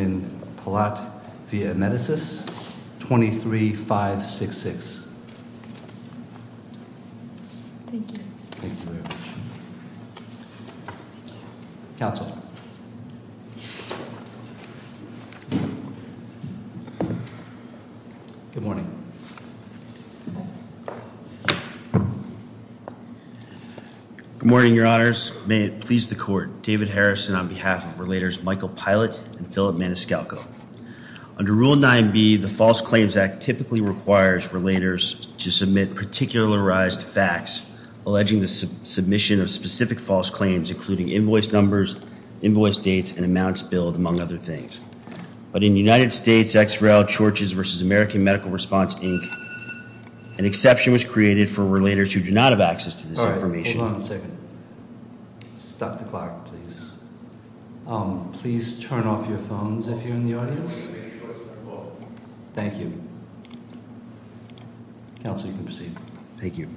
23.566. Thank you. Thank you very much. Council. Good morning. Good morning, Your Honors. May it please the court. David Harrison on behalf of Relators Michael Pilot and Philip Maniscalco. Under Rule 9b, the False Claims Act typically requires Relators to submit particularized facts alleging the submission of specific false claims including invoice numbers, invoice dates, and amounts billed, among other things. But in United States, X-Rail, Chorches v. American Medical Response, Inc., an exception was created for Relators who do not have access to this information. Hold on a second. Stop the clock, please. Please turn off your phones if you're in the audience. Thank you. Council, you can proceed. Thank you.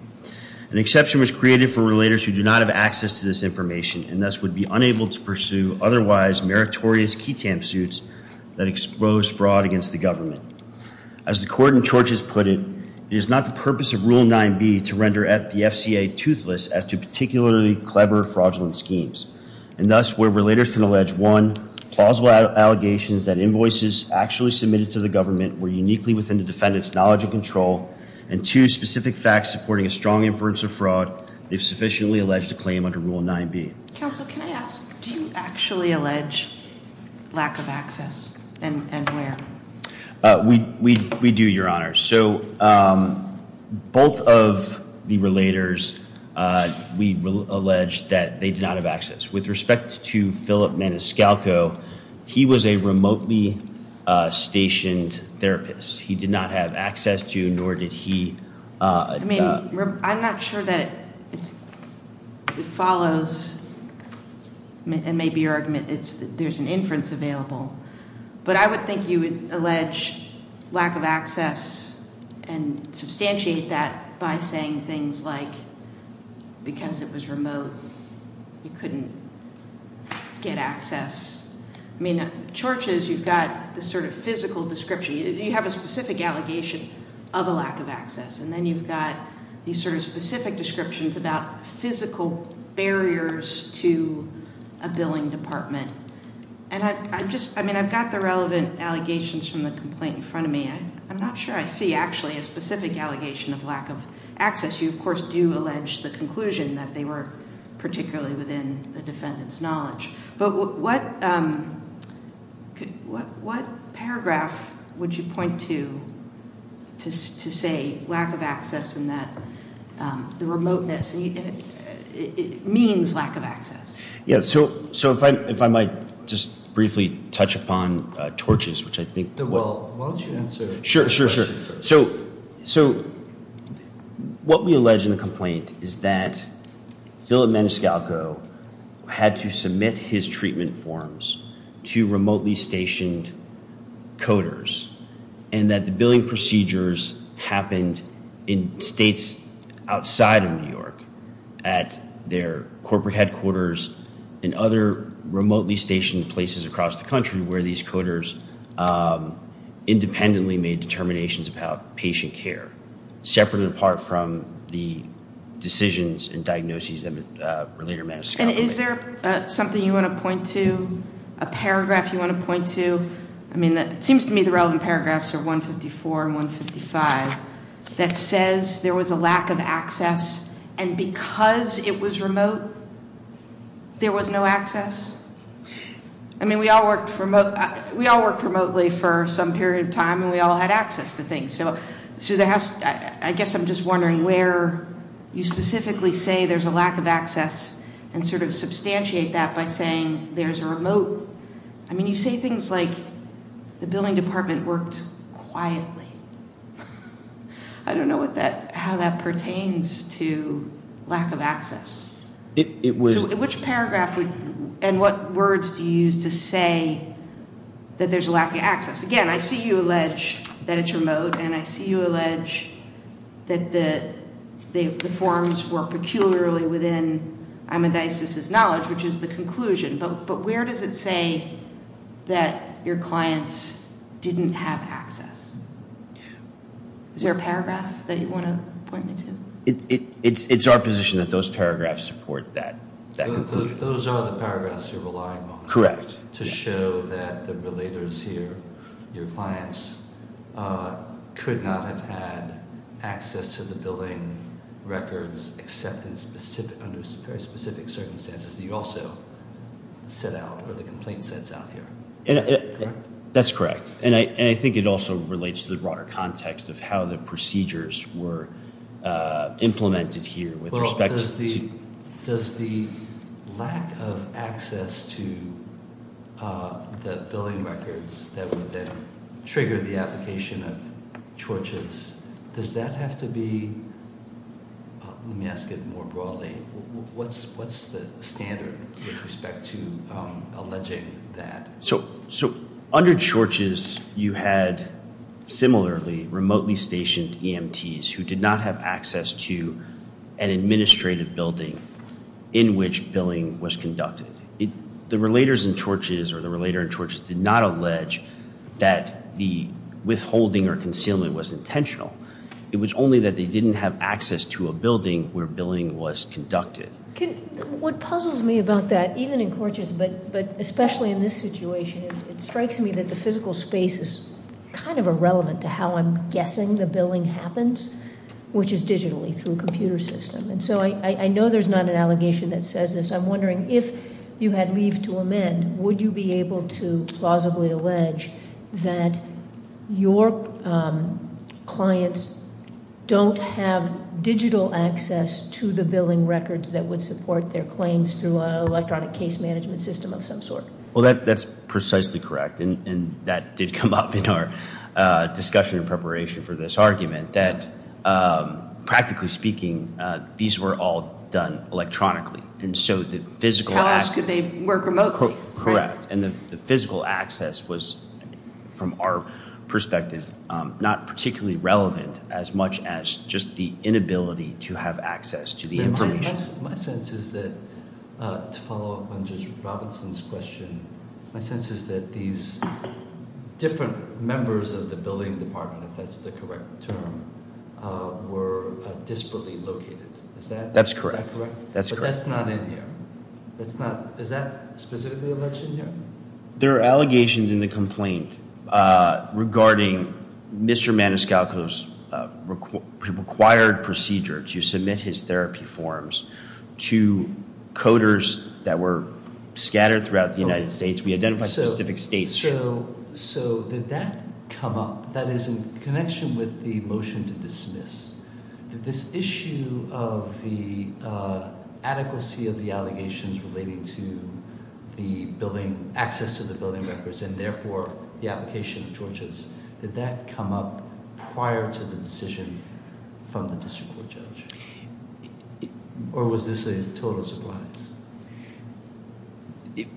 An exception was created for Relators who do not have access to this information and thus would be unable to pursue otherwise meritorious ketamine suits that expose fraud against the government. As the court in Chorches put it, it is not the purpose of Rule 9b to render the FCA toothless as to particularly clever fraudulent schemes. And thus, where Relators can allege, one, plausible allegations that invoices actually submitted to the government were uniquely within the defendant's knowledge and control, and two, specific facts supporting a strong inference of fraud if sufficiently alleged to claim under Rule 9b. Council, can I ask, do you actually allege lack of access and where? We do, Your Honor. So both of the Relators, we allege that they do not have access. With respect to Philip Maniscalco, he was a remotely stationed therapist. He did not have access to nor did he. I'm not sure that it follows. It may be your argument. There's an inference available. But I would think you would allege lack of access and substantiate that by saying things like because it was remote, you couldn't get access. I mean, in Chorches, you've got this sort of physical description. You have a specific allegation of a lack of access. And then you've got these sort of specific descriptions about physical barriers to a billing department. And I just – I mean, I've got the relevant allegations from the complaint in front of me. I'm not sure I see actually a specific allegation of lack of access. You, of course, do allege the conclusion that they were particularly within the defendant's knowledge. But what paragraph would you point to to say lack of access and that the remoteness means lack of access? Yeah, so if I might just briefly touch upon Torches, which I think – Well, why don't you answer the question first? So what we allege in the complaint is that Philip Maniscalco had to submit his treatment forms to remotely stationed coders and that the billing procedures happened in states outside of New York at their corporate headquarters and other remotely stationed places across the country where these coders independently made determinations about patient care, separate and apart from the decisions and diagnoses that related to Maniscalco. And is there something you want to point to, a paragraph you want to point to? I mean, it seems to me the relevant paragraphs are 154 and 155 that says there was a lack of access. And because it was remote, there was no access. I mean, we all worked remotely for some period of time and we all had access to things. So I guess I'm just wondering where you specifically say there's a lack of access and sort of substantiate that by saying there's a remote. I mean, you say things like the billing department worked quietly. I don't know how that pertains to lack of access. So which paragraph and what words do you use to say that there's a lack of access? Again, I see you allege that it's remote and I see you allege that the forms were peculiarly within Amadeus' knowledge, which is the conclusion. But where does it say that your clients didn't have access? Is there a paragraph that you want to point me to? It's our position that those paragraphs support that conclusion. Those are the paragraphs you're relying on. Correct. To show that the relators here, your clients, could not have had access to the billing records except under very specific circumstances that you also set out or the complaint sets out here. Is that correct? That's correct. And I think it also relates to the broader context of how the procedures were implemented here with respect to- Does the lack of access to the billing records that would then trigger the application of torches, does that have to be- let me ask it more broadly. What's the standard with respect to alleging that? So under torches you had similarly remotely stationed EMTs who did not have access to an administrative building in which billing was conducted. The relators in torches or the relator in torches did not allege that the withholding or concealment was intentional. It was only that they didn't have access to a building where billing was conducted. What puzzles me about that, even in torches, but especially in this situation, is it strikes me that the physical space is kind of irrelevant to how I'm guessing the billing happens, which is digitally through a computer system. And so I know there's not an allegation that says this. I'm wondering if you had leave to amend, would you be able to plausibly allege that your clients don't have digital access to the billing records that would support their claims through an electronic case management system of some sort? Well, that's precisely correct. And that did come up in our discussion in preparation for this argument, that practically speaking, these were all done electronically. How else could they work remotely? Correct. And the physical access was, from our perspective, not particularly relevant as much as just the inability to have access to the information. My sense is that, to follow up on Judge Robinson's question, my sense is that these different members of the billing department, if that's the correct term, were desperately located. Is that correct? That's correct. But that's not in here. Is that specifically a legend here? There are allegations in the complaint regarding Mr. Maniscalco's required procedure to submit his therapy forms to coders that were scattered throughout the United States. We identified specific states. So did that come up? That is in connection with the motion to dismiss. Did this issue of the adequacy of the allegations relating to the access to the billing records, and therefore the application of torches, did that come up prior to the decision from the district court judge? Or was this a total surprise?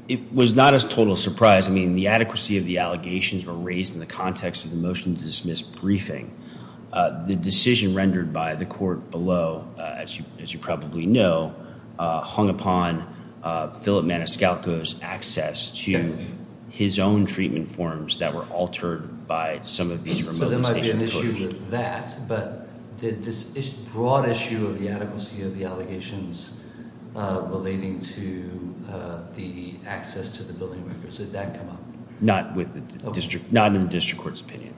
It was not a total surprise. I mean, the adequacy of the allegations were raised in the context of the motion to dismiss briefing. The decision rendered by the court below, as you probably know, hung upon Philip Maniscalco's access to his own treatment forms that were altered by some of these remote stations. But did this broad issue of the adequacy of the allegations relating to the access to the billing records, did that come up? Not in the district court's opinion.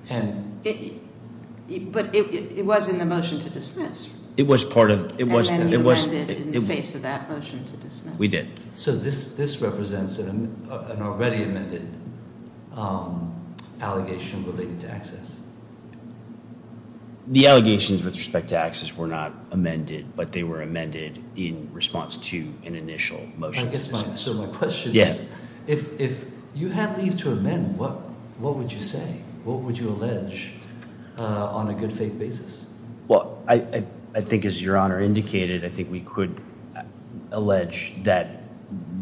But it was in the motion to dismiss. It was part of- And then you amended in the face of that motion to dismiss. We did. So this represents an already amended allegation related to access? The allegations with respect to access were not amended, but they were amended in response to an initial motion. So my question is, if you had leave to amend, what would you say? What would you allege on a good faith basis? Well, I think as Your Honor indicated, I think we could allege that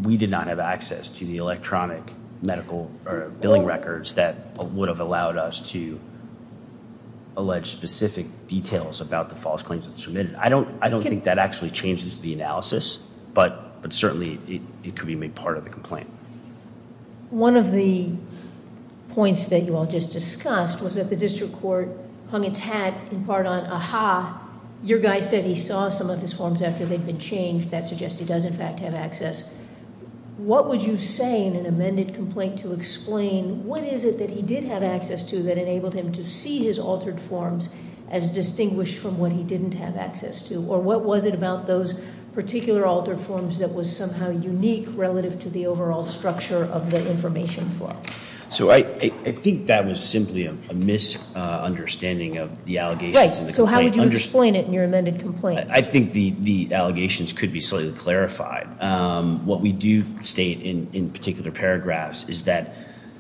we did not have access to the electronic medical or billing records that would have allowed us to allege specific details about the false claims that were submitted. I don't think that actually changes the analysis, but certainly it could be made part of the complaint. One of the points that you all just discussed was that the district court hung its hat in part on, aha, your guy said he saw some of his forms after they'd been changed. That suggests he does, in fact, have access. What would you say in an amended complaint to explain what is it that he did have access to that enabled him to see his altered forms as distinguished from what he didn't have access to? Or what was it about those particular altered forms that was somehow unique relative to the overall structure of the information flow? So I think that was simply a misunderstanding of the allegations in the complaint. Right, so how would you explain it in your amended complaint? I think the allegations could be slightly clarified. What we do state in particular paragraphs is that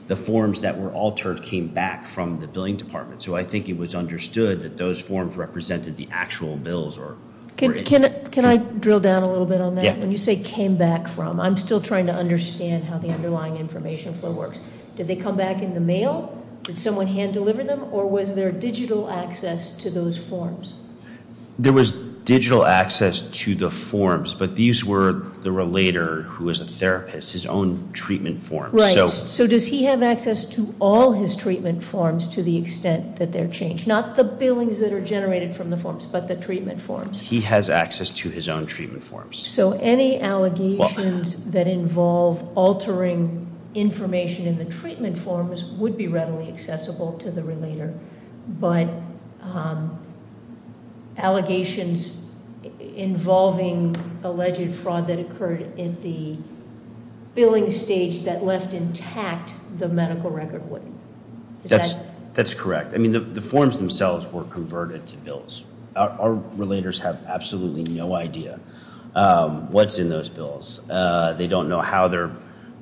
the forms that were altered came back from the billing department. So I think it was understood that those forms represented the actual bills or- Can I drill down a little bit on that? Yeah. When you say came back from, I'm still trying to understand how the underlying information flow works. Did they come back in the mail? Did someone hand deliver them? Or was there digital access to those forms? There was digital access to the forms, but these were the relator who was a therapist, his own treatment forms. Right, so does he have access to all his treatment forms to the extent that they're changed? Not the billings that are generated from the forms, but the treatment forms. He has access to his own treatment forms. So any allegations that involve altering information in the treatment forms would be readily accessible to the relator. But allegations involving alleged fraud that occurred in the billing stage that left intact the medical record wouldn't. Is that- That's correct. I mean, the forms themselves were converted to bills. Our relators have absolutely no idea what's in those bills. They don't know how they're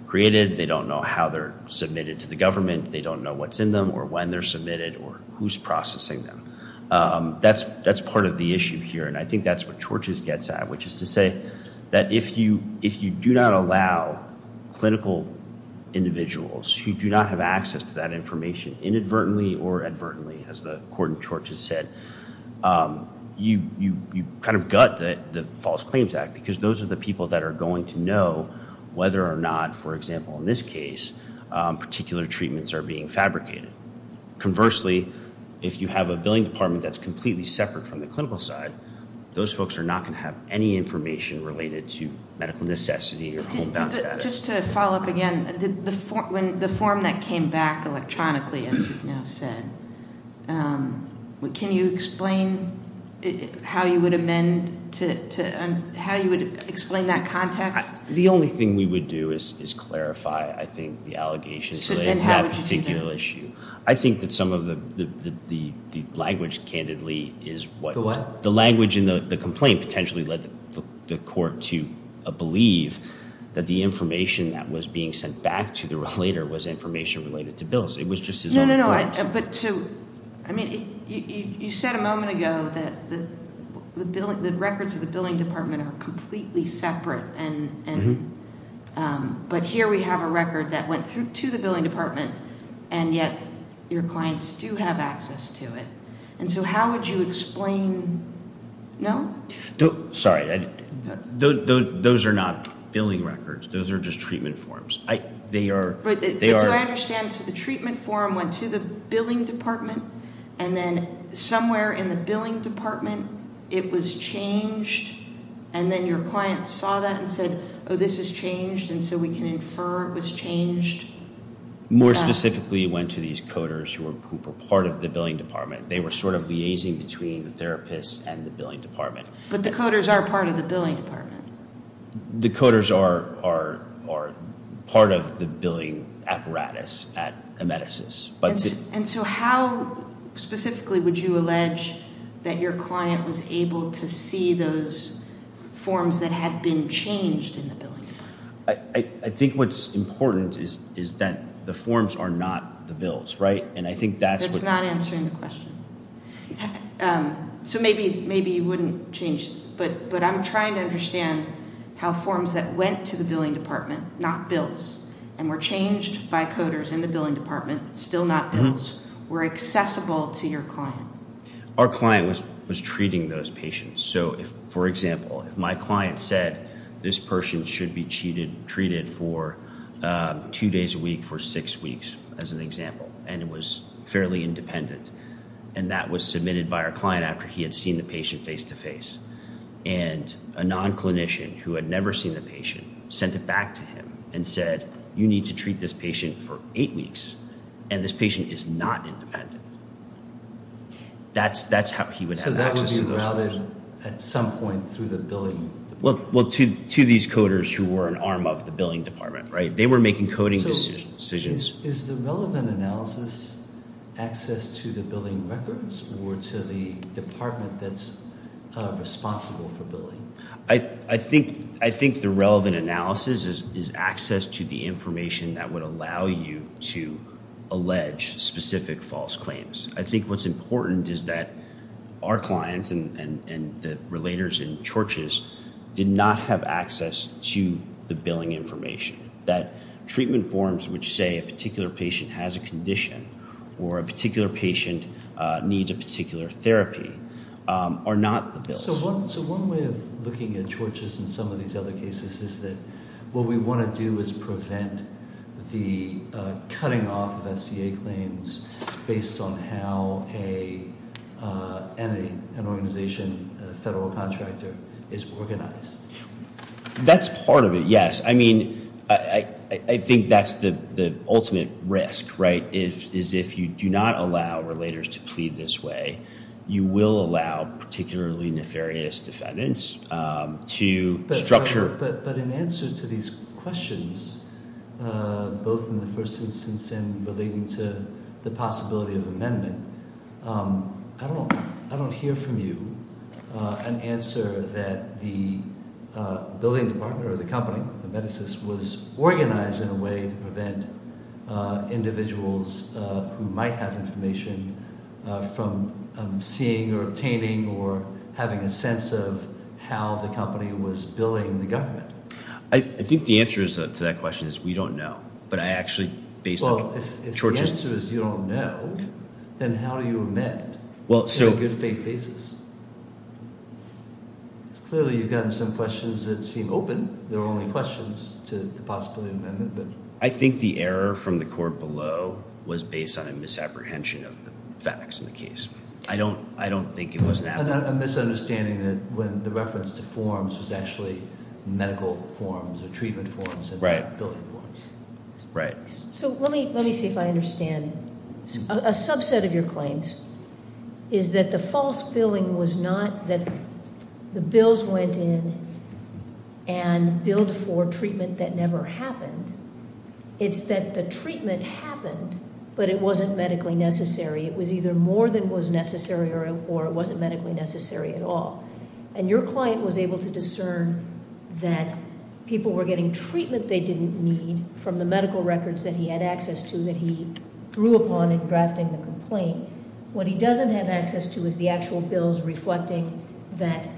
created. They don't know how they're submitted to the government. They don't know what's in them or when they're submitted or who's processing them. That's part of the issue here, and I think that's what Chorch's gets at, which is to say that if you do not allow clinical individuals who do not have access to that information inadvertently or advertently, as the court in Chorch's said, you kind of gut the False Claims Act because those are the people that are going to know whether or not, for example, in this case, particular treatments are being fabricated. Conversely, if you have a billing department that's completely separate from the clinical side, those folks are not going to have any information related to medical necessity or homebound status. Just to follow up again, the form that came back electronically, as you've now said, can you explain how you would amend to- how you would explain that context? The only thing we would do is clarify, I think, the allegations related to that particular issue. So then how would you do that? I think that some of the language, candidly, is what- The what? The language in the complaint potentially led the court to believe that the information that was being sent back to the relator was information related to bills. It was just his own information. But to-I mean, you said a moment ago that the records of the billing department are completely separate. But here we have a record that went to the billing department, and yet your clients do have access to it. And so how would you explain-no? Sorry. Those are not billing records. Those are just treatment forms. They are- But do I understand? So the treatment form went to the billing department, and then somewhere in the billing department it was changed, and then your client saw that and said, oh, this is changed, and so we can infer it was changed. More specifically, it went to these coders who were part of the billing department. They were sort of liaising between the therapist and the billing department. But the coders are part of the billing department. The coders are part of the billing apparatus at Emeticis. And so how specifically would you allege that your client was able to see those forms that had been changed in the billing department? I think what's important is that the forms are not the bills, right? And I think that's what- That's not answering the question. So maybe you wouldn't change-but I'm trying to understand how forms that went to the billing department, not bills, and were changed by coders in the billing department, still not bills, were accessible to your client. Our client was treating those patients. So, for example, if my client said this person should be treated for two days a week for six weeks, as an example, and was fairly independent, and that was submitted by our client after he had seen the patient face-to-face, and a non-clinician who had never seen the patient sent it back to him and said, you need to treat this patient for eight weeks, and this patient is not independent. That's how he would have access to those forms. So that would be routed at some point through the billing department? Well, to these coders who were an arm of the billing department, right? They were making coding decisions. Is the relevant analysis access to the billing records or to the department that's responsible for billing? I think the relevant analysis is access to the information that would allow you to allege specific false claims. I think what's important is that our clients and the relators in churches did not have access to the billing information. That treatment forms which say a particular patient has a condition or a particular patient needs a particular therapy are not the bills. So one way of looking at churches in some of these other cases is that what we want to do is prevent the cutting off of SCA claims based on how an organization, a federal contractor, is organized. That's part of it, yes. I mean, I think that's the ultimate risk, right, is if you do not allow relators to plead this way, you will allow particularly nefarious defendants to structure. But in answer to these questions, both in the first instance and relating to the possibility of amendment, I don't hear from you an answer that the billing department or the company, the medicines, was organized in a way to prevent individuals who might have information from seeing or obtaining or having a sense of how the company was billing the government. I think the answer to that question is we don't know. Well, if the answer is you don't know, then how do you amend on a good faith basis? Clearly you've gotten some questions that seem open. They're only questions to the possibility of amendment. I think the error from the court below was based on a misapprehension of the facts in the case. I don't think it was an apprehension. A misunderstanding that the reference to forms was actually medical forms or treatment forms and not billing forms. Right. So let me see if I understand. A subset of your claims is that the false billing was not that the bills went in and billed for treatment that never happened. It's that the treatment happened, but it wasn't medically necessary. It was either more than was necessary or it wasn't medically necessary at all. And your client was able to discern that people were getting treatment they didn't need from the medical records that he had access to that he drew upon in drafting the complaint. What he doesn't have access to is the actual bills reflecting that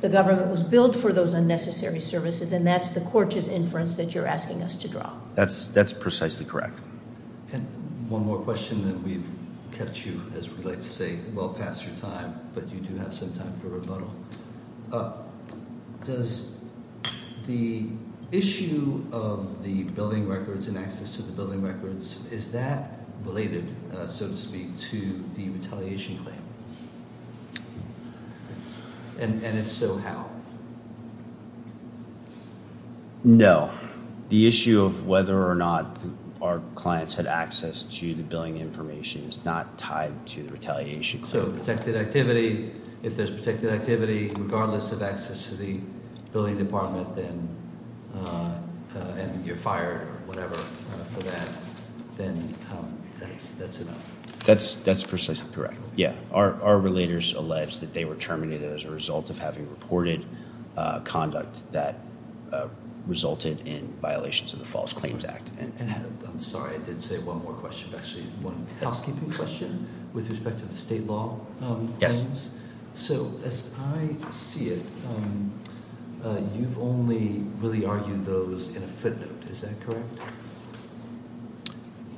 the government was billed for those unnecessary services, and that's the court's inference that you're asking us to draw. That's precisely correct. One more question that we've kept you, as we like to say, well past your time, but you do have some time for rebuttal. Does the issue of the billing records and access to the billing records, is that related, so to speak, to the retaliation claim? And if so, how? No. The issue of whether or not our clients had access to the billing information is not tied to the retaliation claim. So protected activity, if there's protected activity, regardless of access to the billing department, then you're fired, whatever, for that. Then that's enough. That's precisely correct. Yeah. Our relators allege that they were terminated as a result of having reported conduct that resulted in violations of the False Claims Act. I'm sorry, I did say one more question. Actually, one housekeeping question with respect to the state law. Yes. So as I see it, you've only really argued those in a footnote, is that correct?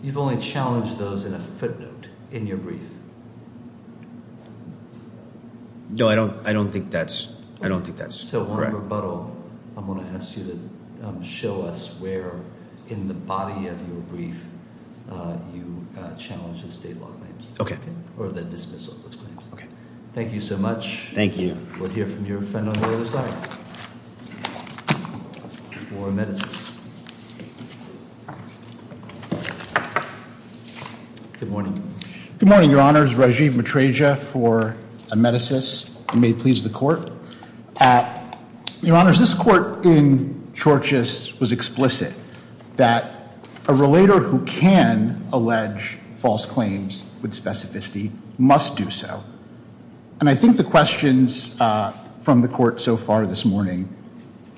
You've only challenged those in a footnote in your brief. No, I don't think that's correct. So one rebuttal, I'm going to ask you to show us where in the body of your brief you challenged the state law claims. Okay. Or the dismissal of those claims. Okay. Thank you so much. Thank you. We'll hear from your friend on the other side. For amethyst. Good morning. Good morning, Your Honors. Rajiv Matreja for amethyst. It may please the Court. Your Honors, this Court in Chorchus was explicit that a relator who can allege false claims with specificity must do so. And I think the questions from the Court so far this morning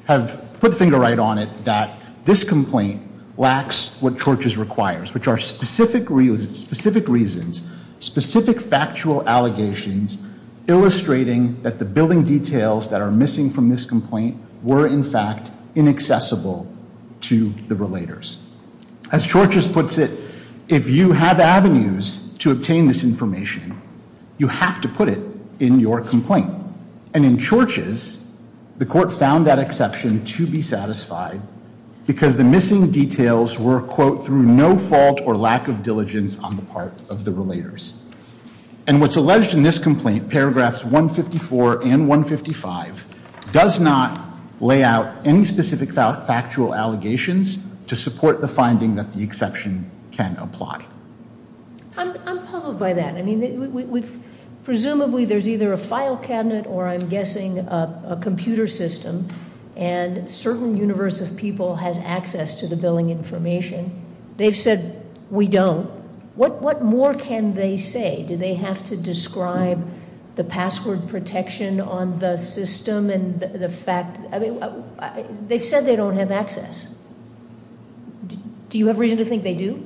have put finger right on it that this complaint lacks what Chorchus requires, which are specific reasons, specific factual allegations, illustrating that the billing details that are missing from this complaint were, in fact, inaccessible to the relators. As Chorchus puts it, if you have avenues to obtain this information, you have to put it in your complaint. And in Chorchus, the Court found that exception to be satisfied because the missing details were, quote, through no fault or lack of diligence on the part of the relators. And what's alleged in this complaint, paragraphs 154 and 155, does not lay out any specific factual allegations to support the finding that the exception can apply. I'm puzzled by that. I mean, presumably there's either a file cabinet or, I'm guessing, a computer system, and certain universe of people has access to the billing information. They've said, we don't. What more can they say? Do they have to describe the password protection on the system and the fact? I mean, they've said they don't have access. Do you have reason to think they do?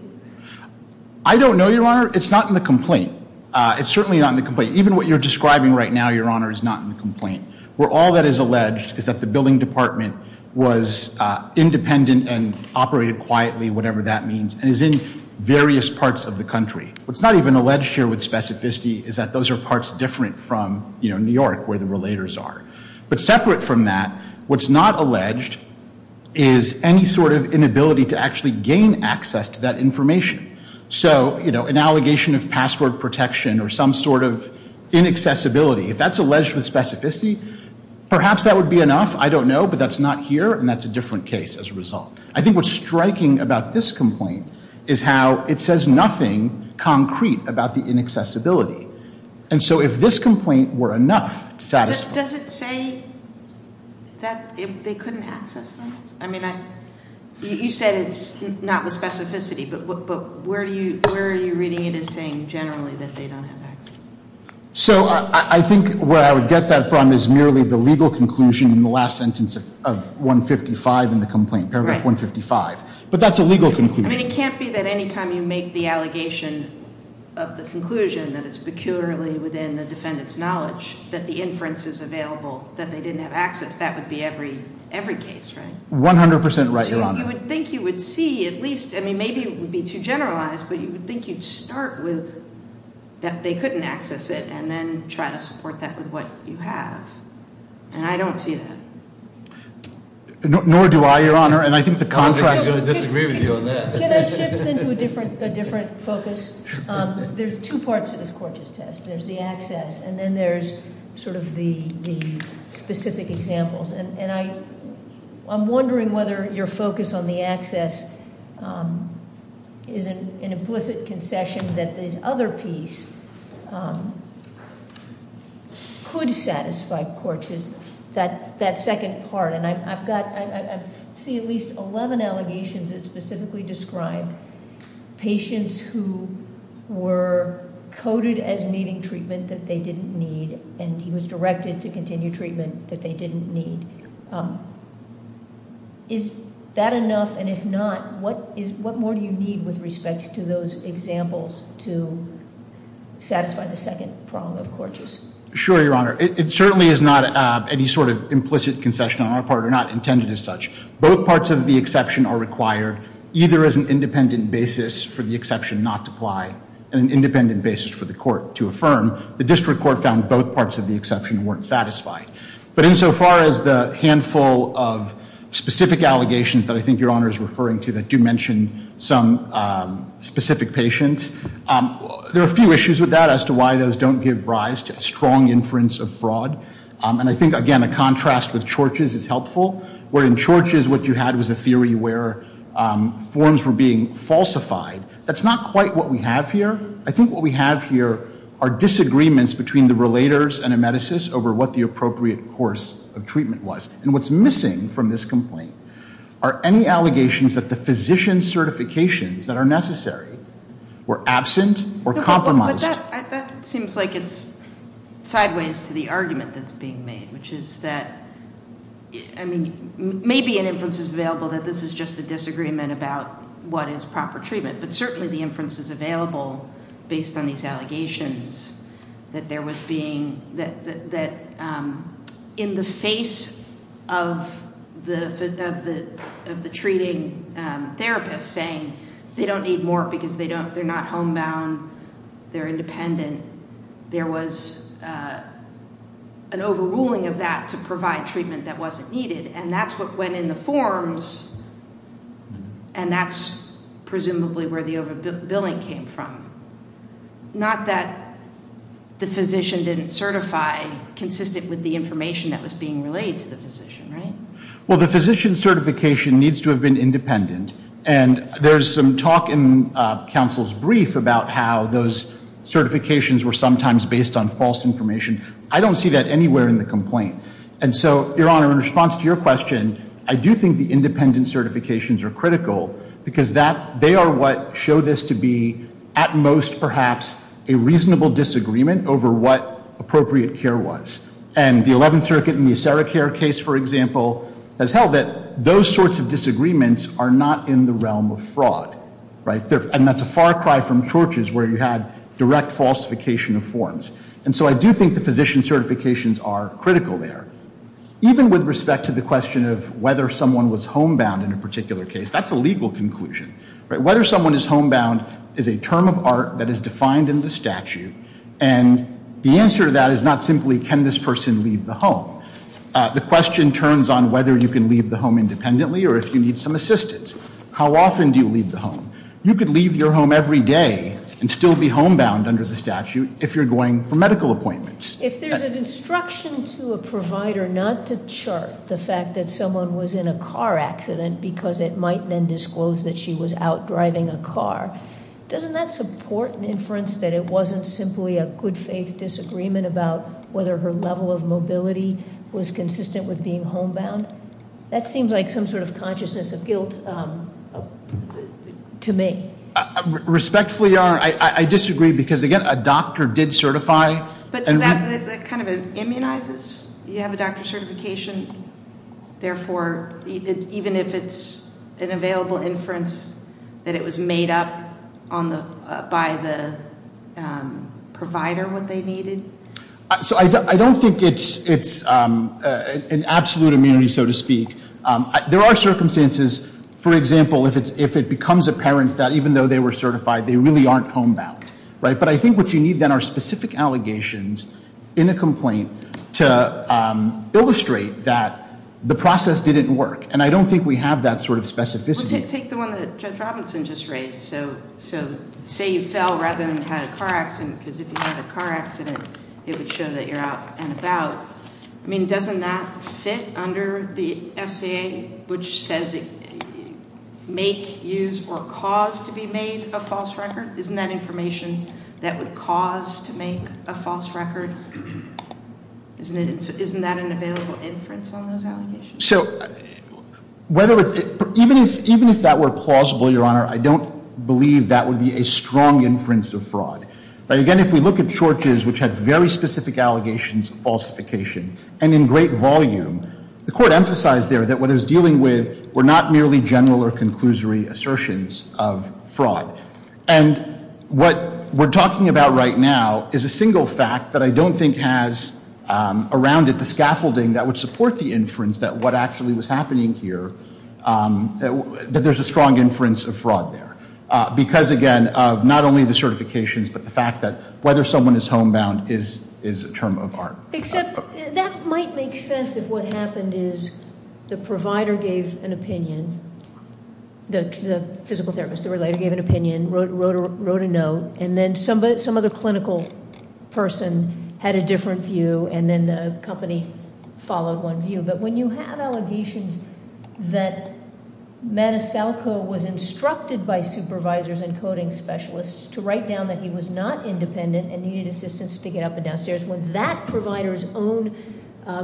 I don't know, Your Honor. It's not in the complaint. It's certainly not in the complaint. Even what you're describing right now, Your Honor, is not in the complaint, where all that is alleged is that the billing department was independent and operated quietly, whatever that means, and is in various parts of the country. What's not even alleged here with specificity is that those are parts different from, you know, New York, where the relators are. But separate from that, what's not alleged is any sort of inability to actually gain access to that information. So, you know, an allegation of password protection or some sort of inaccessibility, if that's alleged with specificity, perhaps that would be enough. I don't know, but that's not here, and that's a different case as a result. I think what's striking about this complaint is how it says nothing concrete about the inaccessibility. And so if this complaint were enough to satisfy- Does it say that they couldn't access that? I mean, you said it's not with specificity, but where are you reading it as saying generally that they don't have access? So I think where I would get that from is merely the legal conclusion in the last sentence of 155 in the complaint, paragraph 155. But that's a legal conclusion. I mean, it can't be that any time you make the allegation of the conclusion that it's peculiarly within the defendant's knowledge that the inference is available that they didn't have access. That would be every case, right? 100 percent right, Your Honor. You would think you would see at least, I mean, maybe it would be too generalized, but you would think you'd start with that they couldn't access it, and then try to support that with what you have. And I don't see that. Nor do I, Your Honor, and I think the contrast- I'm just going to disagree with you on that. Can I shift into a different focus? There's two parts to this court's test. There's the access, and then there's sort of the specific examples. And I'm wondering whether your focus on the access is an implicit concession that this other piece could satisfy, which is that second part. And I've got, I see at least 11 allegations that specifically describe patients who were coded as needing treatment that they didn't need, and he was directed to continue treatment that they didn't need. Is that enough, and if not, what more do you need with respect to those examples to satisfy the second prong of court use? Sure, Your Honor. It certainly is not any sort of implicit concession on our part, or not intended as such. Both parts of the exception are required, either as an independent basis for the exception not to apply, and an independent basis for the court to affirm. The district court found both parts of the exception weren't satisfied. But insofar as the handful of specific allegations that I think Your Honor is referring to that do mention some specific patients, there are a few issues with that as to why those don't give rise to a strong inference of fraud. And I think, again, a contrast with Chorch's is helpful, where in Chorch's what you had was a theory where forms were being falsified. That's not quite what we have here. I think what we have here are disagreements between the relators and emeticists over what the appropriate course of treatment was. And what's missing from this complaint are any allegations that the physician certifications that are necessary were absent or compromised. But that seems like it's sideways to the argument that's being made, which is that, I mean, maybe an inference is available that this is just a disagreement about what is proper treatment. But certainly the inference is available based on these allegations that there was being that in the face of the treating therapist saying they don't need more because they're not homebound, they're independent, there was an overruling of that to provide treatment that wasn't needed. And that's what went in the forms, and that's presumably where the overbilling came from. Not that the physician didn't certify consistent with the information that was being relayed to the physician, right? Well, the physician certification needs to have been independent, and there's some talk in counsel's brief about how those certifications were sometimes based on false information. I don't see that anywhere in the complaint. And so, Your Honor, in response to your question, I do think the independent certifications are critical because they are what show this to be at most perhaps a reasonable disagreement over what appropriate care was. And the Eleventh Circuit in the Acera Care case, for example, has held that those sorts of disagreements are not in the realm of fraud, right? And that's a far cry from torches where you had direct falsification of forms. And so I do think the physician certifications are critical there. Even with respect to the question of whether someone was homebound in a particular case, that's a legal conclusion, right? Whether someone is homebound is a term of art that is defined in the statute, and the answer to that is not simply can this person leave the home. The question turns on whether you can leave the home independently or if you need some assistance. How often do you leave the home? You could leave your home every day and still be homebound under the statute if you're going for medical appointments. If there's an instruction to a provider not to chart the fact that someone was in a car accident because it might then disclose that she was out driving a car, doesn't that support an inference that it wasn't simply a good faith disagreement about whether her level of mobility was consistent with being homebound? That seems like some sort of consciousness of guilt to me. Respectfully, Your Honor, I disagree because, again, a doctor did certify. But that kind of immunizes? You have a doctor certification. Therefore, even if it's an available inference that it was made up by the provider what they needed? So I don't think it's an absolute immunity, so to speak. There are circumstances, for example, if it becomes apparent that even though they were certified they really aren't homebound, right? But I think what you need then are specific allegations in a complaint to illustrate that the process didn't work. And I don't think we have that sort of specificity. Well, take the one that Judge Robinson just raised. So say you fell rather than had a car accident because if you had a car accident it would show that you're out and about. I mean, doesn't that fit under the FCA, which says make, use, or cause to be made a false record? Isn't that information that would cause to make a false record? Isn't that an available inference on those allegations? So even if that were plausible, Your Honor, I don't believe that would be a strong inference of fraud. Again, if we look at Church's, which had very specific allegations of falsification and in great volume, the court emphasized there that what it was dealing with were not merely general or conclusory assertions of fraud. And what we're talking about right now is a single fact that I don't think has around it the scaffolding that would support the inference that what actually was happening here, that there's a strong inference of fraud there. Because again, of not only the certifications, but the fact that whether someone is homebound is a term of art. Except that might make sense if what happened is the provider gave an opinion, the physical therapist, the relator, gave an opinion, wrote a note, and then some other clinical person had a different view, and then the company followed one view. But when you have allegations that Maniscalco was instructed by supervisors and coding specialists to write down that he was not independent and needed assistance to get up and downstairs when that provider's own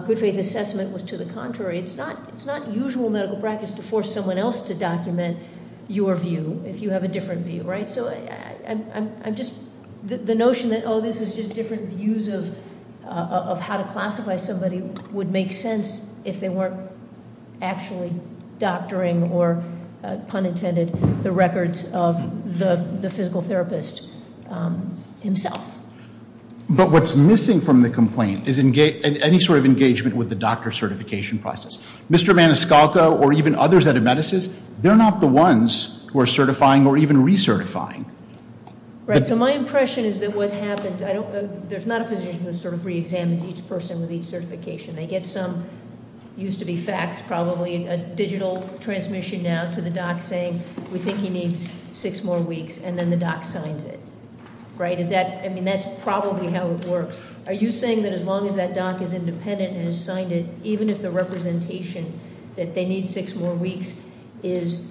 good faith assessment was to the contrary. It's not usual medical practice to force someone else to document your view if you have a different view, right? So the notion that this is just different views of how to classify somebody would make sense if they weren't actually doctoring or pun intended, the records of the physical therapist himself. But what's missing from the complaint is any sort of engagement with the doctor certification process. Mr. Maniscalco or even others at Emeticist, they're not the ones who are certifying or even recertifying. Right, so my impression is that what happened, there's not a physician who sort of re-examines each person with each certification. They get some, used to be faxed probably, a digital transmission now to the doc saying, we think he needs six more weeks, and then the doc signs it, right? Is that, I mean, that's probably how it works. Are you saying that as long as that doc is independent and has signed it, even if the representation that they need six more weeks is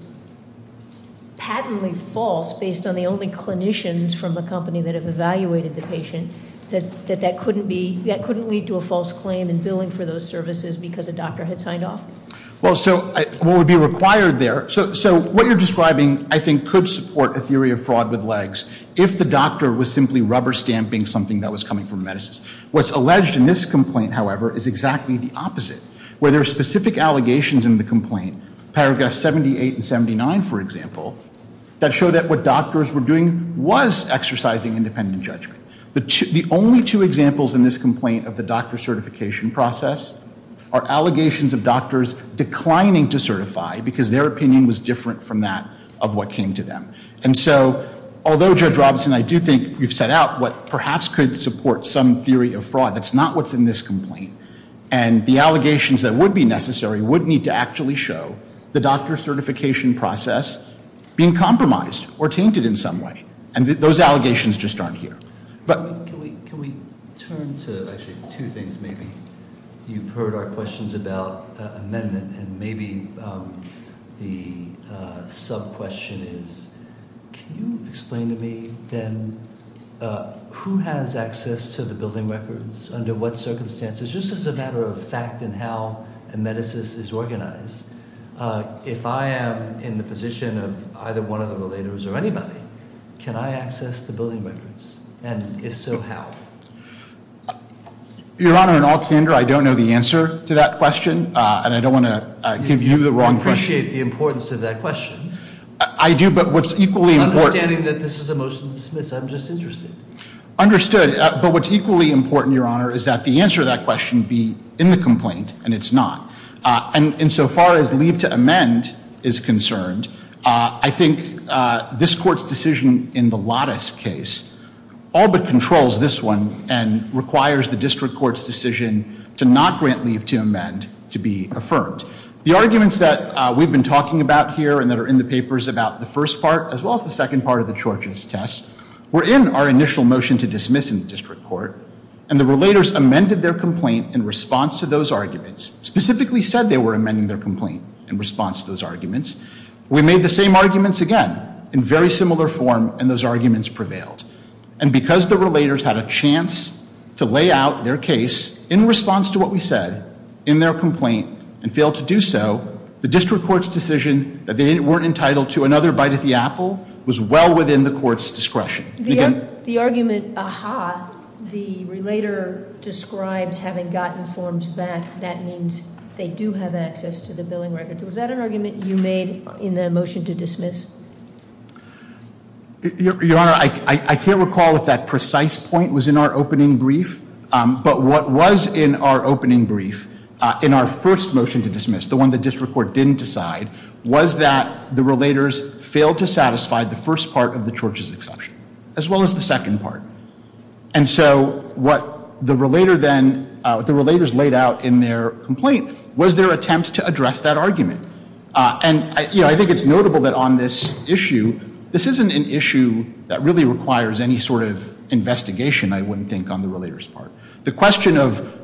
patently false based on the only clinicians from the company that have evaluated the patient, that that couldn't lead to a false claim in billing for those services because a doctor had signed off? Well, so what would be required there, so what you're describing I think could support a theory of fraud with legs if the doctor was simply rubber stamping something that was coming from Emeticist. What's alleged in this complaint, however, is exactly the opposite. Where there are specific allegations in the complaint, paragraph 78 and 79, for example, that show that what doctors were doing was exercising independent judgment. The only two examples in this complaint of the doctor certification process are allegations of doctors declining to certify because their opinion was different from that of what came to them. And so, although Judge Robinson, I do think you've set out what perhaps could support some theory of fraud, that's not what's in this complaint. And the allegations that would be necessary would need to actually show the doctor certification process being compromised or tainted in some way. And those allegations just aren't here. But- Can we turn to, actually, two things maybe. You've heard our questions about amendment and maybe the sub-question is, can you explain to me then who has access to the building records, under what circumstances, just as a matter of fact and how Emeticist is organized. If I am in the position of either one of the relators or anybody, can I access the building records? And if so, how? Your Honor, in all candor, I don't know the answer to that question and I don't want to give you the wrong question. I appreciate the importance of that question. I do, but what's equally important- Understanding that this is a motion to dismiss, I'm just interested. Understood, but what's equally important, Your Honor, is that the answer to that question be in the complaint and it's not. And so far as leave to amend is concerned, I think this court's decision in the Lattice case all but controls this one and requires the district court's decision to not grant leave to amend to be affirmed. The arguments that we've been talking about here and that are in the papers about the first part, as well as the second part of the Chorch's test, were in our initial motion to dismiss in the district court, and the relators amended their complaint in response to those arguments, specifically said they were amending their complaint in response to those arguments. We made the same arguments again in very similar form and those arguments prevailed. And because the relators had a chance to lay out their case in response to what we said in their complaint and failed to do so, the district court's decision that they weren't entitled to another bite at the apple was well within the court's discretion. The argument, aha, the relator describes having gotten forms back, that means they do have access to the billing records. Was that an argument you made in the motion to dismiss? Your Honor, I can't recall if that precise point was in our opening brief, but what was in our opening brief in our first motion to dismiss, the one the district court didn't decide, was that the relators failed to satisfy the first part of the Chorch's exception, as well as the second part. And so what the relator then, what the relators laid out in their complaint was their attempt to address that argument. And, you know, I think it's notable that on this issue, this isn't an issue that really requires any sort of investigation, I wouldn't think, on the relator's part. The question of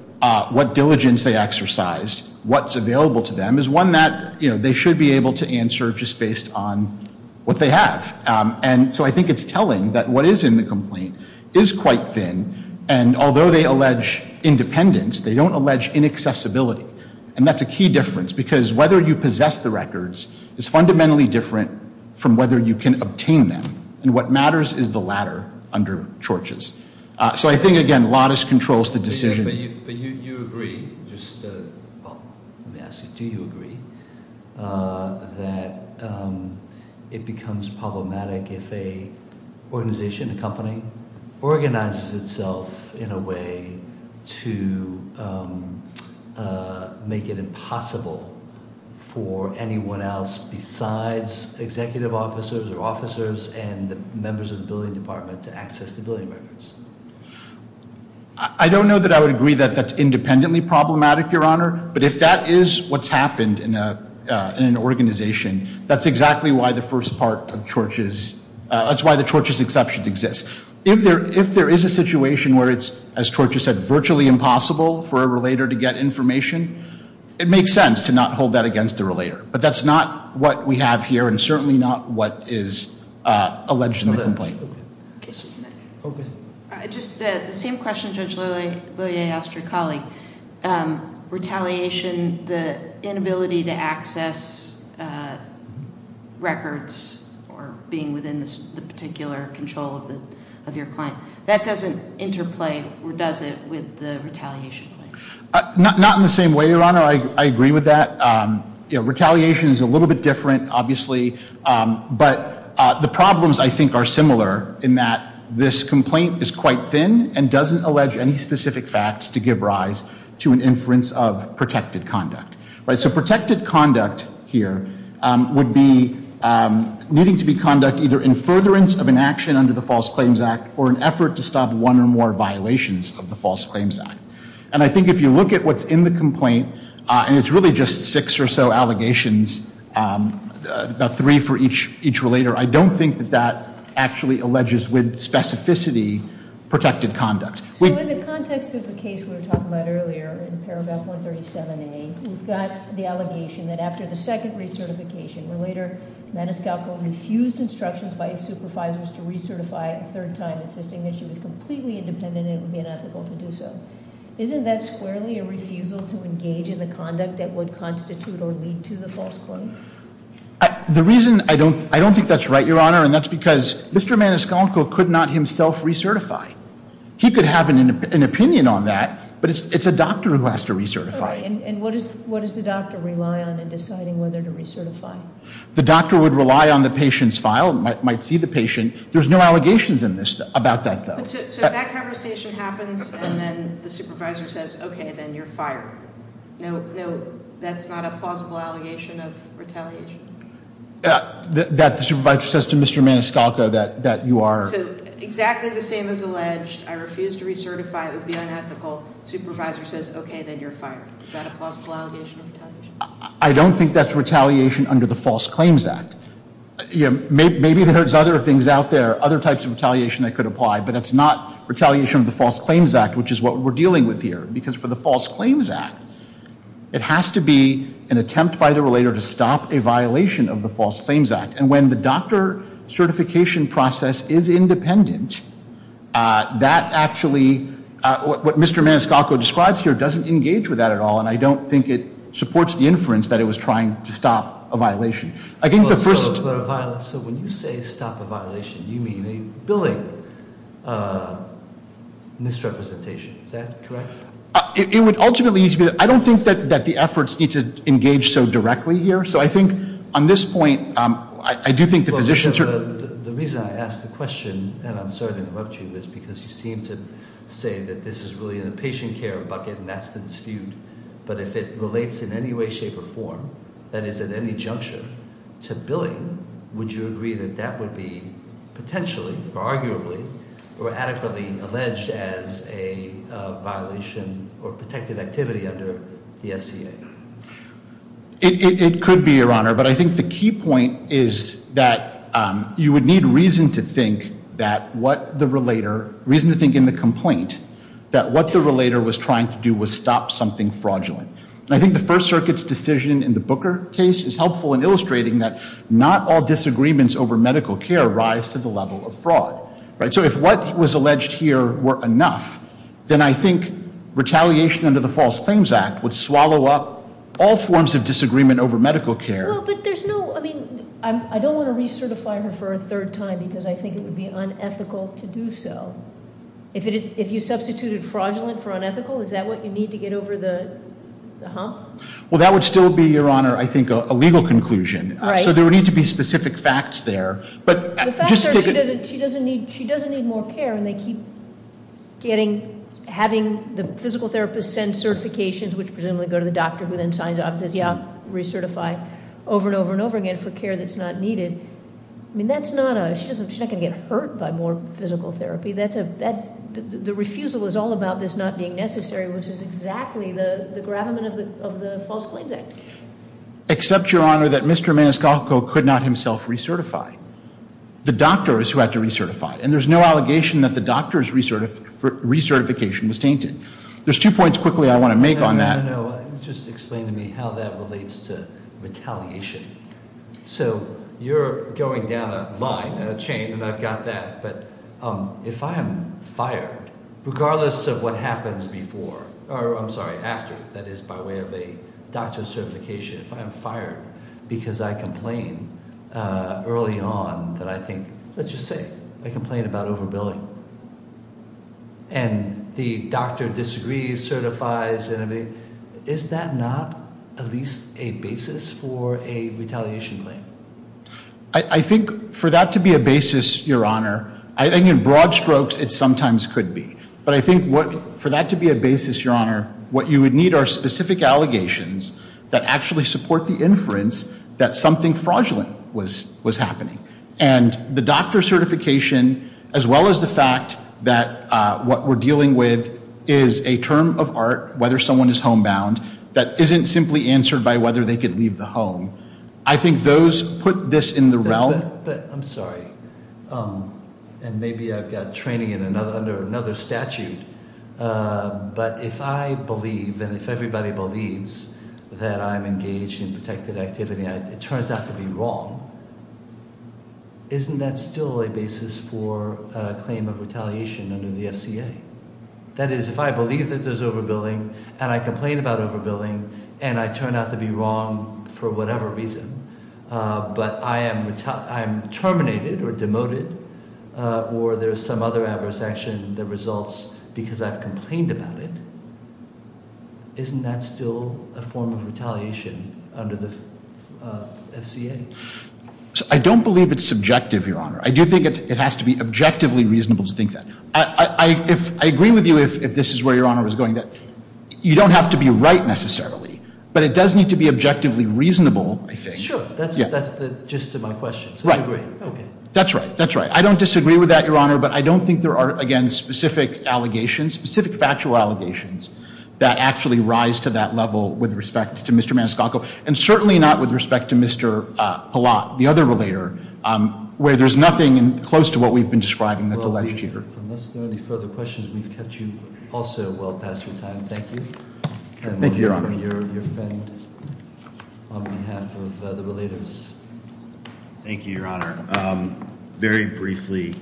what diligence they exercised, what's available to them, is one that, you know, they should be able to answer just based on what they have. And so I think it's telling that what is in the complaint is quite thin, and although they allege independence, they don't allege inaccessibility. And that's a key difference, because whether you possess the records is fundamentally different from whether you can obtain them. And what matters is the latter under Chorch's. So I think, again, Lattice controls the decision. But you agree, just, well, let me ask you, do you agree that it becomes problematic if an organization, a company, organizes itself in a way to make it impossible for anyone else besides executive officers or officers and the members of the billing department to access the billing records? I don't know that I would agree that that's independently problematic, Your Honor. But if that is what's happened in an organization, that's exactly why the first part of Chorch's, that's why the Chorch's exception exists. If there is a situation where it's, as Chorch has said, virtually impossible for a relator to get information, it makes sense to not hold that against the relator. But that's not what we have here, and certainly not what is alleged in the complaint. Okay. Just the same question Judge Lillie asked her colleague, retaliation, the inability to access records or being within the particular control of your client, that doesn't interplay or does it with the retaliation claim? Not in the same way, Your Honor. I agree with that. Retaliation is a little bit different, obviously. But the problems, I think, are similar in that this complaint is quite thin and doesn't allege any specific facts to give rise to an inference of protected conduct. So protected conduct here would be needing to be conduct either in furtherance of an action under the False Claims Act or an effort to stop one or more violations of the False Claims Act. And I think if you look at what's in the complaint, and it's really just six or so allegations, about three for each relator, I don't think that that actually alleges with specificity protected conduct. So in the context of the case we were talking about earlier in Paragraph 137A, we've got the allegation that after the second recertification, Relator Maniscalco refused instructions by his supervisors to recertify a third time, insisting that she was completely independent and it would be unethical to do so. Isn't that squarely a refusal to engage in the conduct that would constitute or lead to the false claim? The reason I don't think that's right, Your Honor, and that's because Mr. Maniscalco could not himself recertify. He could have an opinion on that, but it's a doctor who has to recertify. And what does the doctor rely on in deciding whether to recertify? The doctor would rely on the patient's file, might see the patient. There's no allegations about that, though. So if that conversation happens and then the supervisor says, okay, then you're fired. No, that's not a plausible allegation of retaliation. That the supervisor says to Mr. Maniscalco that you are. So exactly the same as alleged, I refuse to recertify, it would be unethical. Supervisor says, okay, then you're fired. Is that a plausible allegation of retaliation? Maybe there's other things out there, other types of retaliation that could apply, but it's not retaliation of the False Claims Act, which is what we're dealing with here. Because for the False Claims Act, it has to be an attempt by the relator to stop a violation of the False Claims Act. And when the doctor certification process is independent, that actually, what Mr. Maniscalco describes here doesn't engage with that at all, and I don't think it supports the inference that it was trying to stop a violation. I think the first- So when you say stop a violation, you mean a billing misrepresentation, is that correct? It would ultimately, I don't think that the efforts need to engage so directly here. So I think on this point, I do think the physicians are- The reason I ask the question, and I'm sorry to interrupt you, is because you seem to say that this is really in the patient care bucket and that's the dispute. But if it relates in any way, shape, or form that is at any juncture to billing, would you agree that that would be potentially, arguably, or adequately alleged as a violation or protected activity under the FCA? It could be, Your Honor. But I think the key point is that you would need reason to think that what the relator- And I think the First Circuit's decision in the Booker case is helpful in illustrating that not all disagreements over medical care rise to the level of fraud. So if what was alleged here were enough, then I think retaliation under the False Claims Act would swallow up all forms of disagreement over medical care. Well, but there's no- I mean, I don't want to recertify her for a third time because I think it would be unethical to do so. If you substituted fraudulent for unethical, is that what you need to get over the hump? Well, that would still be, Your Honor, I think, a legal conclusion. All right. So there would need to be specific facts there. But just to take a- The fact that she doesn't need more care and they keep getting, having the physical therapist send certifications which presumably go to the doctor who then signs off and says, yeah, recertify over and over and over again for care that's not needed. I mean, that's not a, she's not going to get hurt by more physical therapy. The refusal is all about this not being necessary, which is exactly the gravamen of the False Claims Act. Except, Your Honor, that Mr. Maniscalco could not himself recertify. The doctor is who had to recertify. And there's no allegation that the doctor's recertification was tainted. There's two points quickly I want to make on that. No, no, no. Just explain to me how that relates to retaliation. So you're going down a line, a chain, and I've got that. But if I'm fired, regardless of what happens before, or I'm sorry, after, that is by way of a doctor's certification, if I'm fired because I complain early on that I think, let's just say I complain about overbilling, and the doctor disagrees, certifies, is that not at least a basis for a retaliation claim? I think for that to be a basis, Your Honor, I think in broad strokes it sometimes could be. But I think for that to be a basis, Your Honor, what you would need are specific allegations that actually support the inference that something fraudulent was happening. And the doctor's certification, as well as the fact that what we're dealing with is a term of art, whether someone is homebound, that isn't simply answered by whether they could leave the home. I think those put this in the realm. I'm sorry. And maybe I've got training under another statute. But if I believe and if everybody believes that I'm engaged in protected activity, it turns out to be wrong, isn't that still a basis for a claim of retaliation under the FCA? That is, if I believe that there's overbilling and I complain about overbilling, and I turn out to be wrong for whatever reason, but I am terminated or demoted, or there's some other adverse action that results because I've complained about it, isn't that still a form of retaliation under the FCA? I don't believe it's subjective, Your Honor. I do think it has to be objectively reasonable to think that. I agree with you if this is where Your Honor was going, that you don't have to be right necessarily. But it does need to be objectively reasonable, I think. Sure. That's the gist of my question. Right. I agree. Okay. That's right. That's right. I don't disagree with that, Your Honor, but I don't think there are, again, specific allegations, specific factual allegations that actually rise to that level with respect to Mr. Maniscalco, and certainly not with respect to Mr. Pallott, the other relator, where there's nothing close to what we've been describing that's alleged here. Unless there are any further questions, we've kept you all so well past your time. Thank you. Thank you, Your Honor. And we'll hear from your friend on behalf of the relators. Thank you, Your Honor. Very briefly,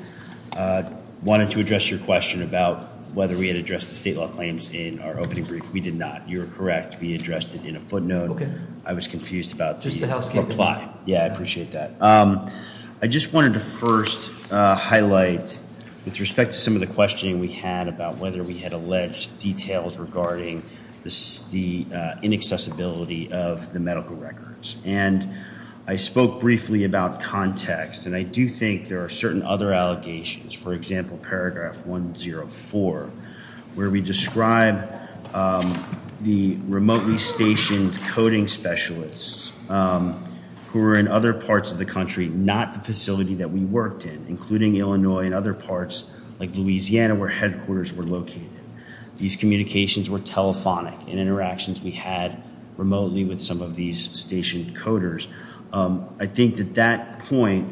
I wanted to address your question about whether we had addressed the state law claims in our opening brief. We did not. You were correct. We addressed it in a footnote. Okay. I was confused about the reply. Just the housekeeping. Yeah, I appreciate that. I just wanted to first highlight, with respect to some of the questioning we had about whether we had alleged details regarding the inaccessibility of the medical records. And I spoke briefly about context, and I do think there are certain other allegations. For example, paragraph 104, where we describe the remotely stationed coding specialists who are in other parts of the country, not the facility that we worked in, including Illinois and other parts like Louisiana, where headquarters were located. These communications were telephonic in interactions we had remotely with some of these stationed coders. I think that that point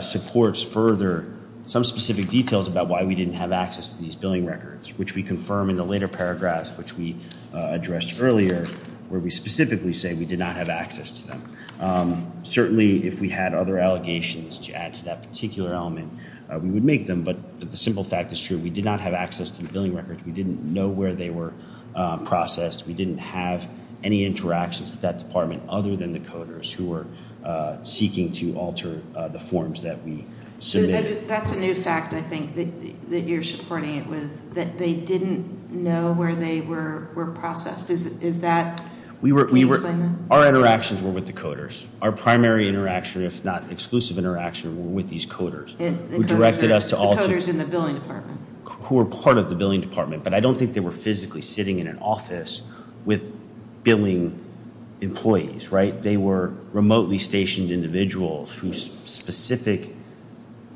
supports further some specific details about why we didn't have access to these billing records, which we confirm in the later paragraphs, which we addressed earlier, where we specifically say we did not have access to them. Certainly, if we had other allegations to add to that particular element, we would make them. But the simple fact is true. We did not have access to the billing records. We didn't know where they were processed. We didn't have any interactions with that department other than the coders who were seeking to alter the forms that we submitted. That's a new fact, I think, that you're supporting it with, that they didn't know where they were processed. Can you explain that? Our interactions were with the coders. Our primary interaction, if not exclusive interaction, were with these coders. The coders in the billing department. Who were part of the billing department, but I don't think they were physically sitting in an office with billing employees, right? They were remotely stationed individuals whose specific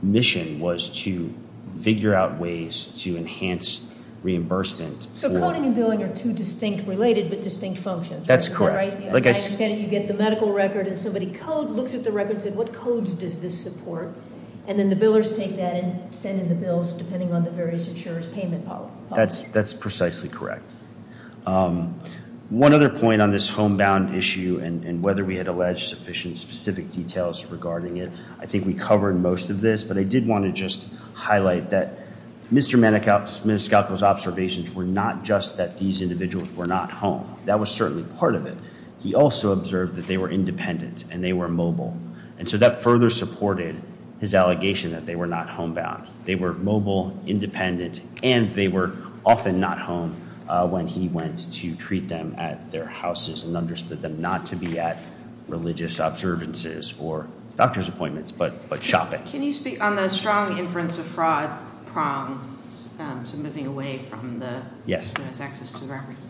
mission was to figure out ways to enhance reimbursement. So coding and billing are two distinct related but distinct functions, right? That's correct. As I understand it, you get the medical record and somebody looks at the record and says, what codes does this support? And then the billers take that and send in the bills depending on the various insurer's payment policy. That's precisely correct. One other point on this homebound issue and whether we had alleged sufficient specific details regarding it, I think we covered most of this. But I did want to just highlight that Mr. Maniscalco's observations were not just that these individuals were not home. That was certainly part of it. He also observed that they were independent and they were mobile. And so that further supported his allegation that they were not homebound. They were mobile, independent, and they were often not home when he went to treat them at their houses and understood them not to be at religious observances or doctor's appointments, but shopping. Can you speak on the strong inference of fraud prongs? So moving away from the access to the records.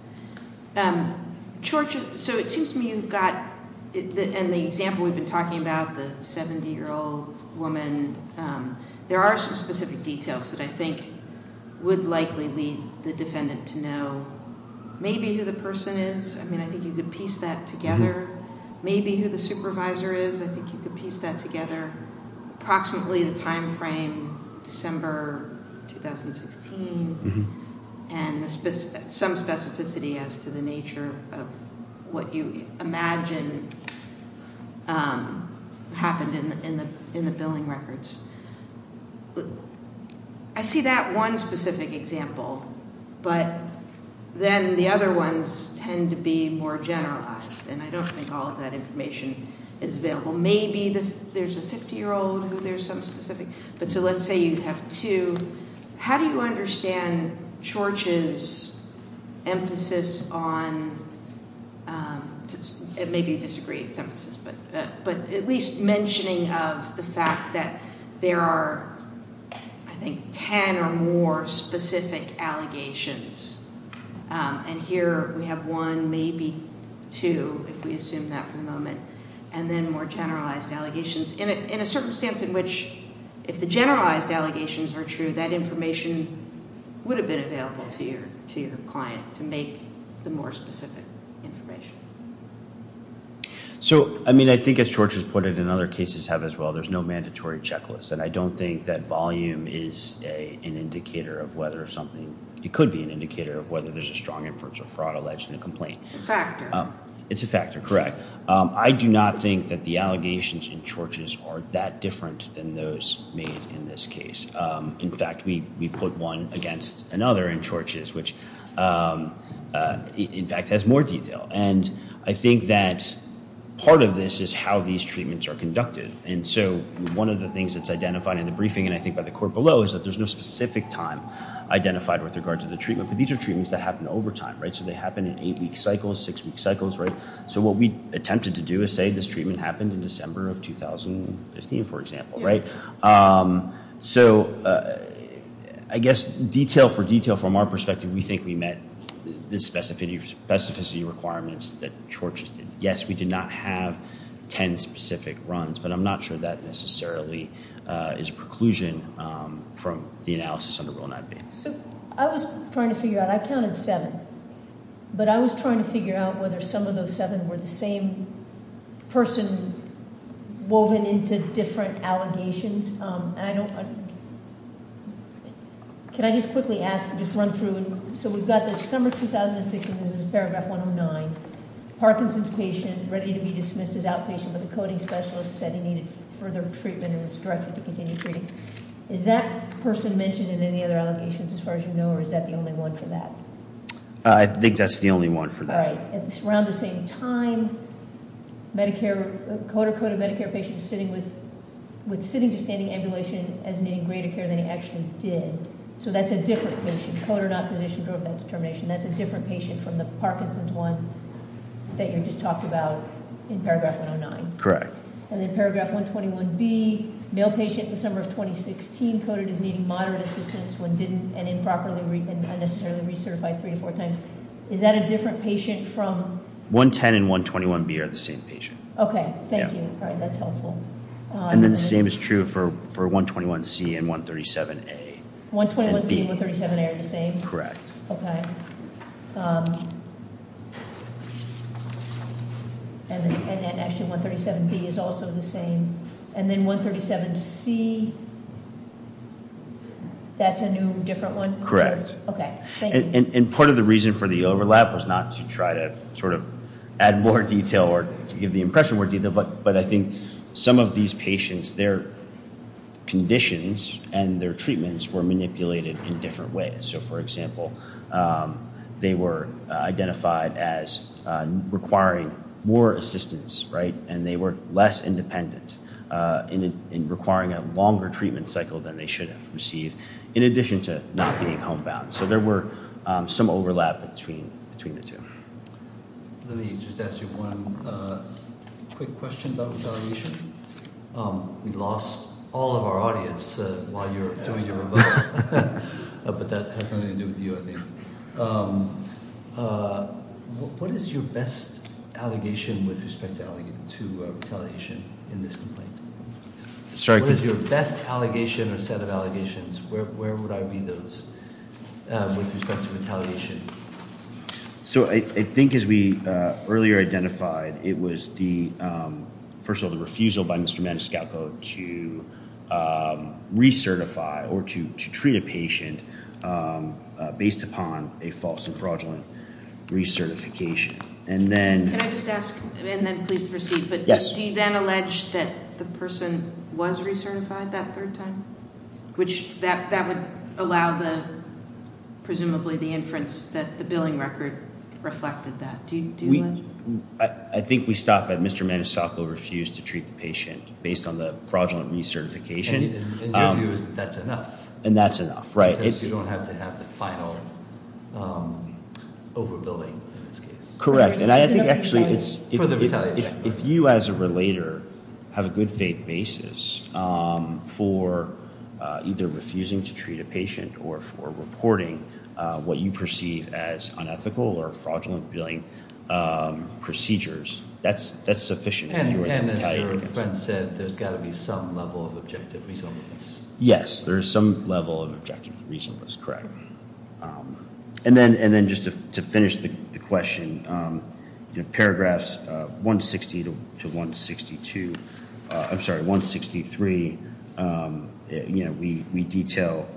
So it seems to me you've got, in the example we've been talking about, the 70-year-old woman, there are some specific details that I think would likely lead the defendant to know. Maybe who the person is. I mean, I think you could piece that together. Maybe who the supervisor is. I think you could piece that together. Approximately the time frame, December 2016. And some specificity as to the nature of what you imagine happened in the billing records. I see that one specific example, but then the other ones tend to be more generalized. And I don't think all of that information is available. Maybe there's a 50-year-old who there's some specific. But so let's say you have two. How do you understand Chorch's emphasis on, maybe you disagree with his emphasis, but at least mentioning of the fact that there are, I think, ten or more specific allegations. And here we have one, maybe two, if we assume that for the moment. And then more generalized allegations. In a circumstance in which, if the generalized allegations are true, that information would have been available to your client to make the more specific information. So, I mean, I think as Chorch has pointed, and other cases have as well, there's no mandatory checklist. And I don't think that volume is an indicator of whether something, it could be an indicator of whether there's a strong inference of fraud alleged in a complaint. It's a factor. It's a factor, correct. I do not think that the allegations in Chorch's are that different than those made in this case. In fact, we put one against another in Chorch's, which in fact has more detail. And I think that part of this is how these treatments are conducted. And so one of the things that's identified in the briefing, and I think by the court below, is that there's no specific time identified with regard to the treatment. But these are treatments that happen over time, right? So they happen in eight-week cycles, six-week cycles, right? So what we attempted to do is say this treatment happened in December of 2015, for example, right? So I guess detail for detail, from our perspective, we think we met the specificity requirements that Chorch did. Yes, we did not have ten specific runs. But I'm not sure that necessarily is a preclusion from the analysis under Rule 9B. So I was trying to figure out, I counted seven. But I was trying to figure out whether some of those seven were the same person woven into different allegations. And I don't, can I just quickly ask, just run through? So we've got the summer of 2016, this is paragraph 109. Parkinson's patient ready to be dismissed as outpatient, but the coding specialist said he needed further treatment and was directed to continue treating. Is that person mentioned in any other allegations as far as you know, or is that the only one for that? I think that's the only one for that. Right. Around the same time, Medicare, coder coded Medicare patient sitting with, with sitting to standing ambulation as needing greater care than he actually did. So that's a different patient. Coder not physician drove that determination. That's a different patient from the Parkinson's one that you just talked about in paragraph 109. Correct. And in paragraph 121B, male patient in the summer of 2016 coded as needing moderate assistance when didn't and improperly and unnecessarily recertified three to four times. Is that a different patient from- 110 and 121B are the same patient. Okay, thank you. Yeah. All right, that's helpful. And then the same is true for 121C and 137A. 121C and 137A are the same? Correct. Okay. And actually 137B is also the same. And then 137C, that's a new different one? Correct. Okay, thank you. And part of the reason for the overlap was not to try to sort of add more detail or to give the impression more detail, but I think some of these patients, their conditions and their treatments were manipulated in different ways. So, for example, they were identified as requiring more assistance, right, and they were less independent in requiring a longer treatment cycle than they should have received, in addition to not being homebound. So there were some overlap between the two. Let me just ask you one quick question about retaliation. We lost all of our audience while you were doing your rebuttal, but that has nothing to do with you, I think. What is your best allegation with respect to retaliation in this complaint? What is your best allegation or set of allegations? Where would I be those with respect to retaliation? So I think as we earlier identified, it was, first of all, the refusal by Mr. Maniscalco to recertify or to treat a patient based upon a false and fraudulent recertification. Can I just ask, and then please proceed? Yes. Do you then allege that the person was recertified that third time, which that would allow presumably the inference that the billing record reflected that? I think we stop at Mr. Maniscalco refused to treat the patient based on the fraudulent recertification. And your view is that that's enough. And that's enough, right. Because you don't have to have the final overbilling in this case. Correct. And I think actually if you as a relator have a good faith basis for either refusing to treat a patient or for reporting what you perceive as unethical or fraudulent billing procedures, that's sufficient. And as your friend said, there's got to be some level of objective reasonableness. Yes, there is some level of objective reasonableness, correct. And then just to finish the question, paragraphs 160 to 162, I'm sorry, 163. We detail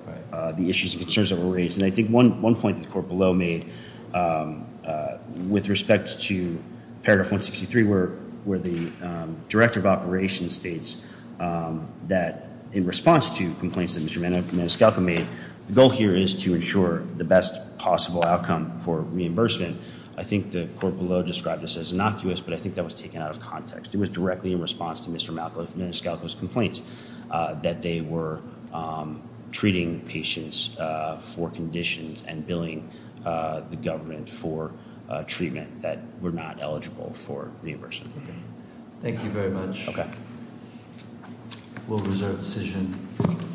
the issues and concerns that were raised. And I think one point that the court below made with respect to paragraph 163, where the director of operations states that in response to complaints that Mr. Maniscalco made, the goal here is to ensure the best possible outcome for reimbursement. I think the court below described this as innocuous, but I think that was taken out of context. It was directly in response to Mr. Maniscalco's complaints that they were treating patients for conditions and billing the government for treatment that were not eligible for reimbursement. Thank you very much. Okay. We'll reserve the decision.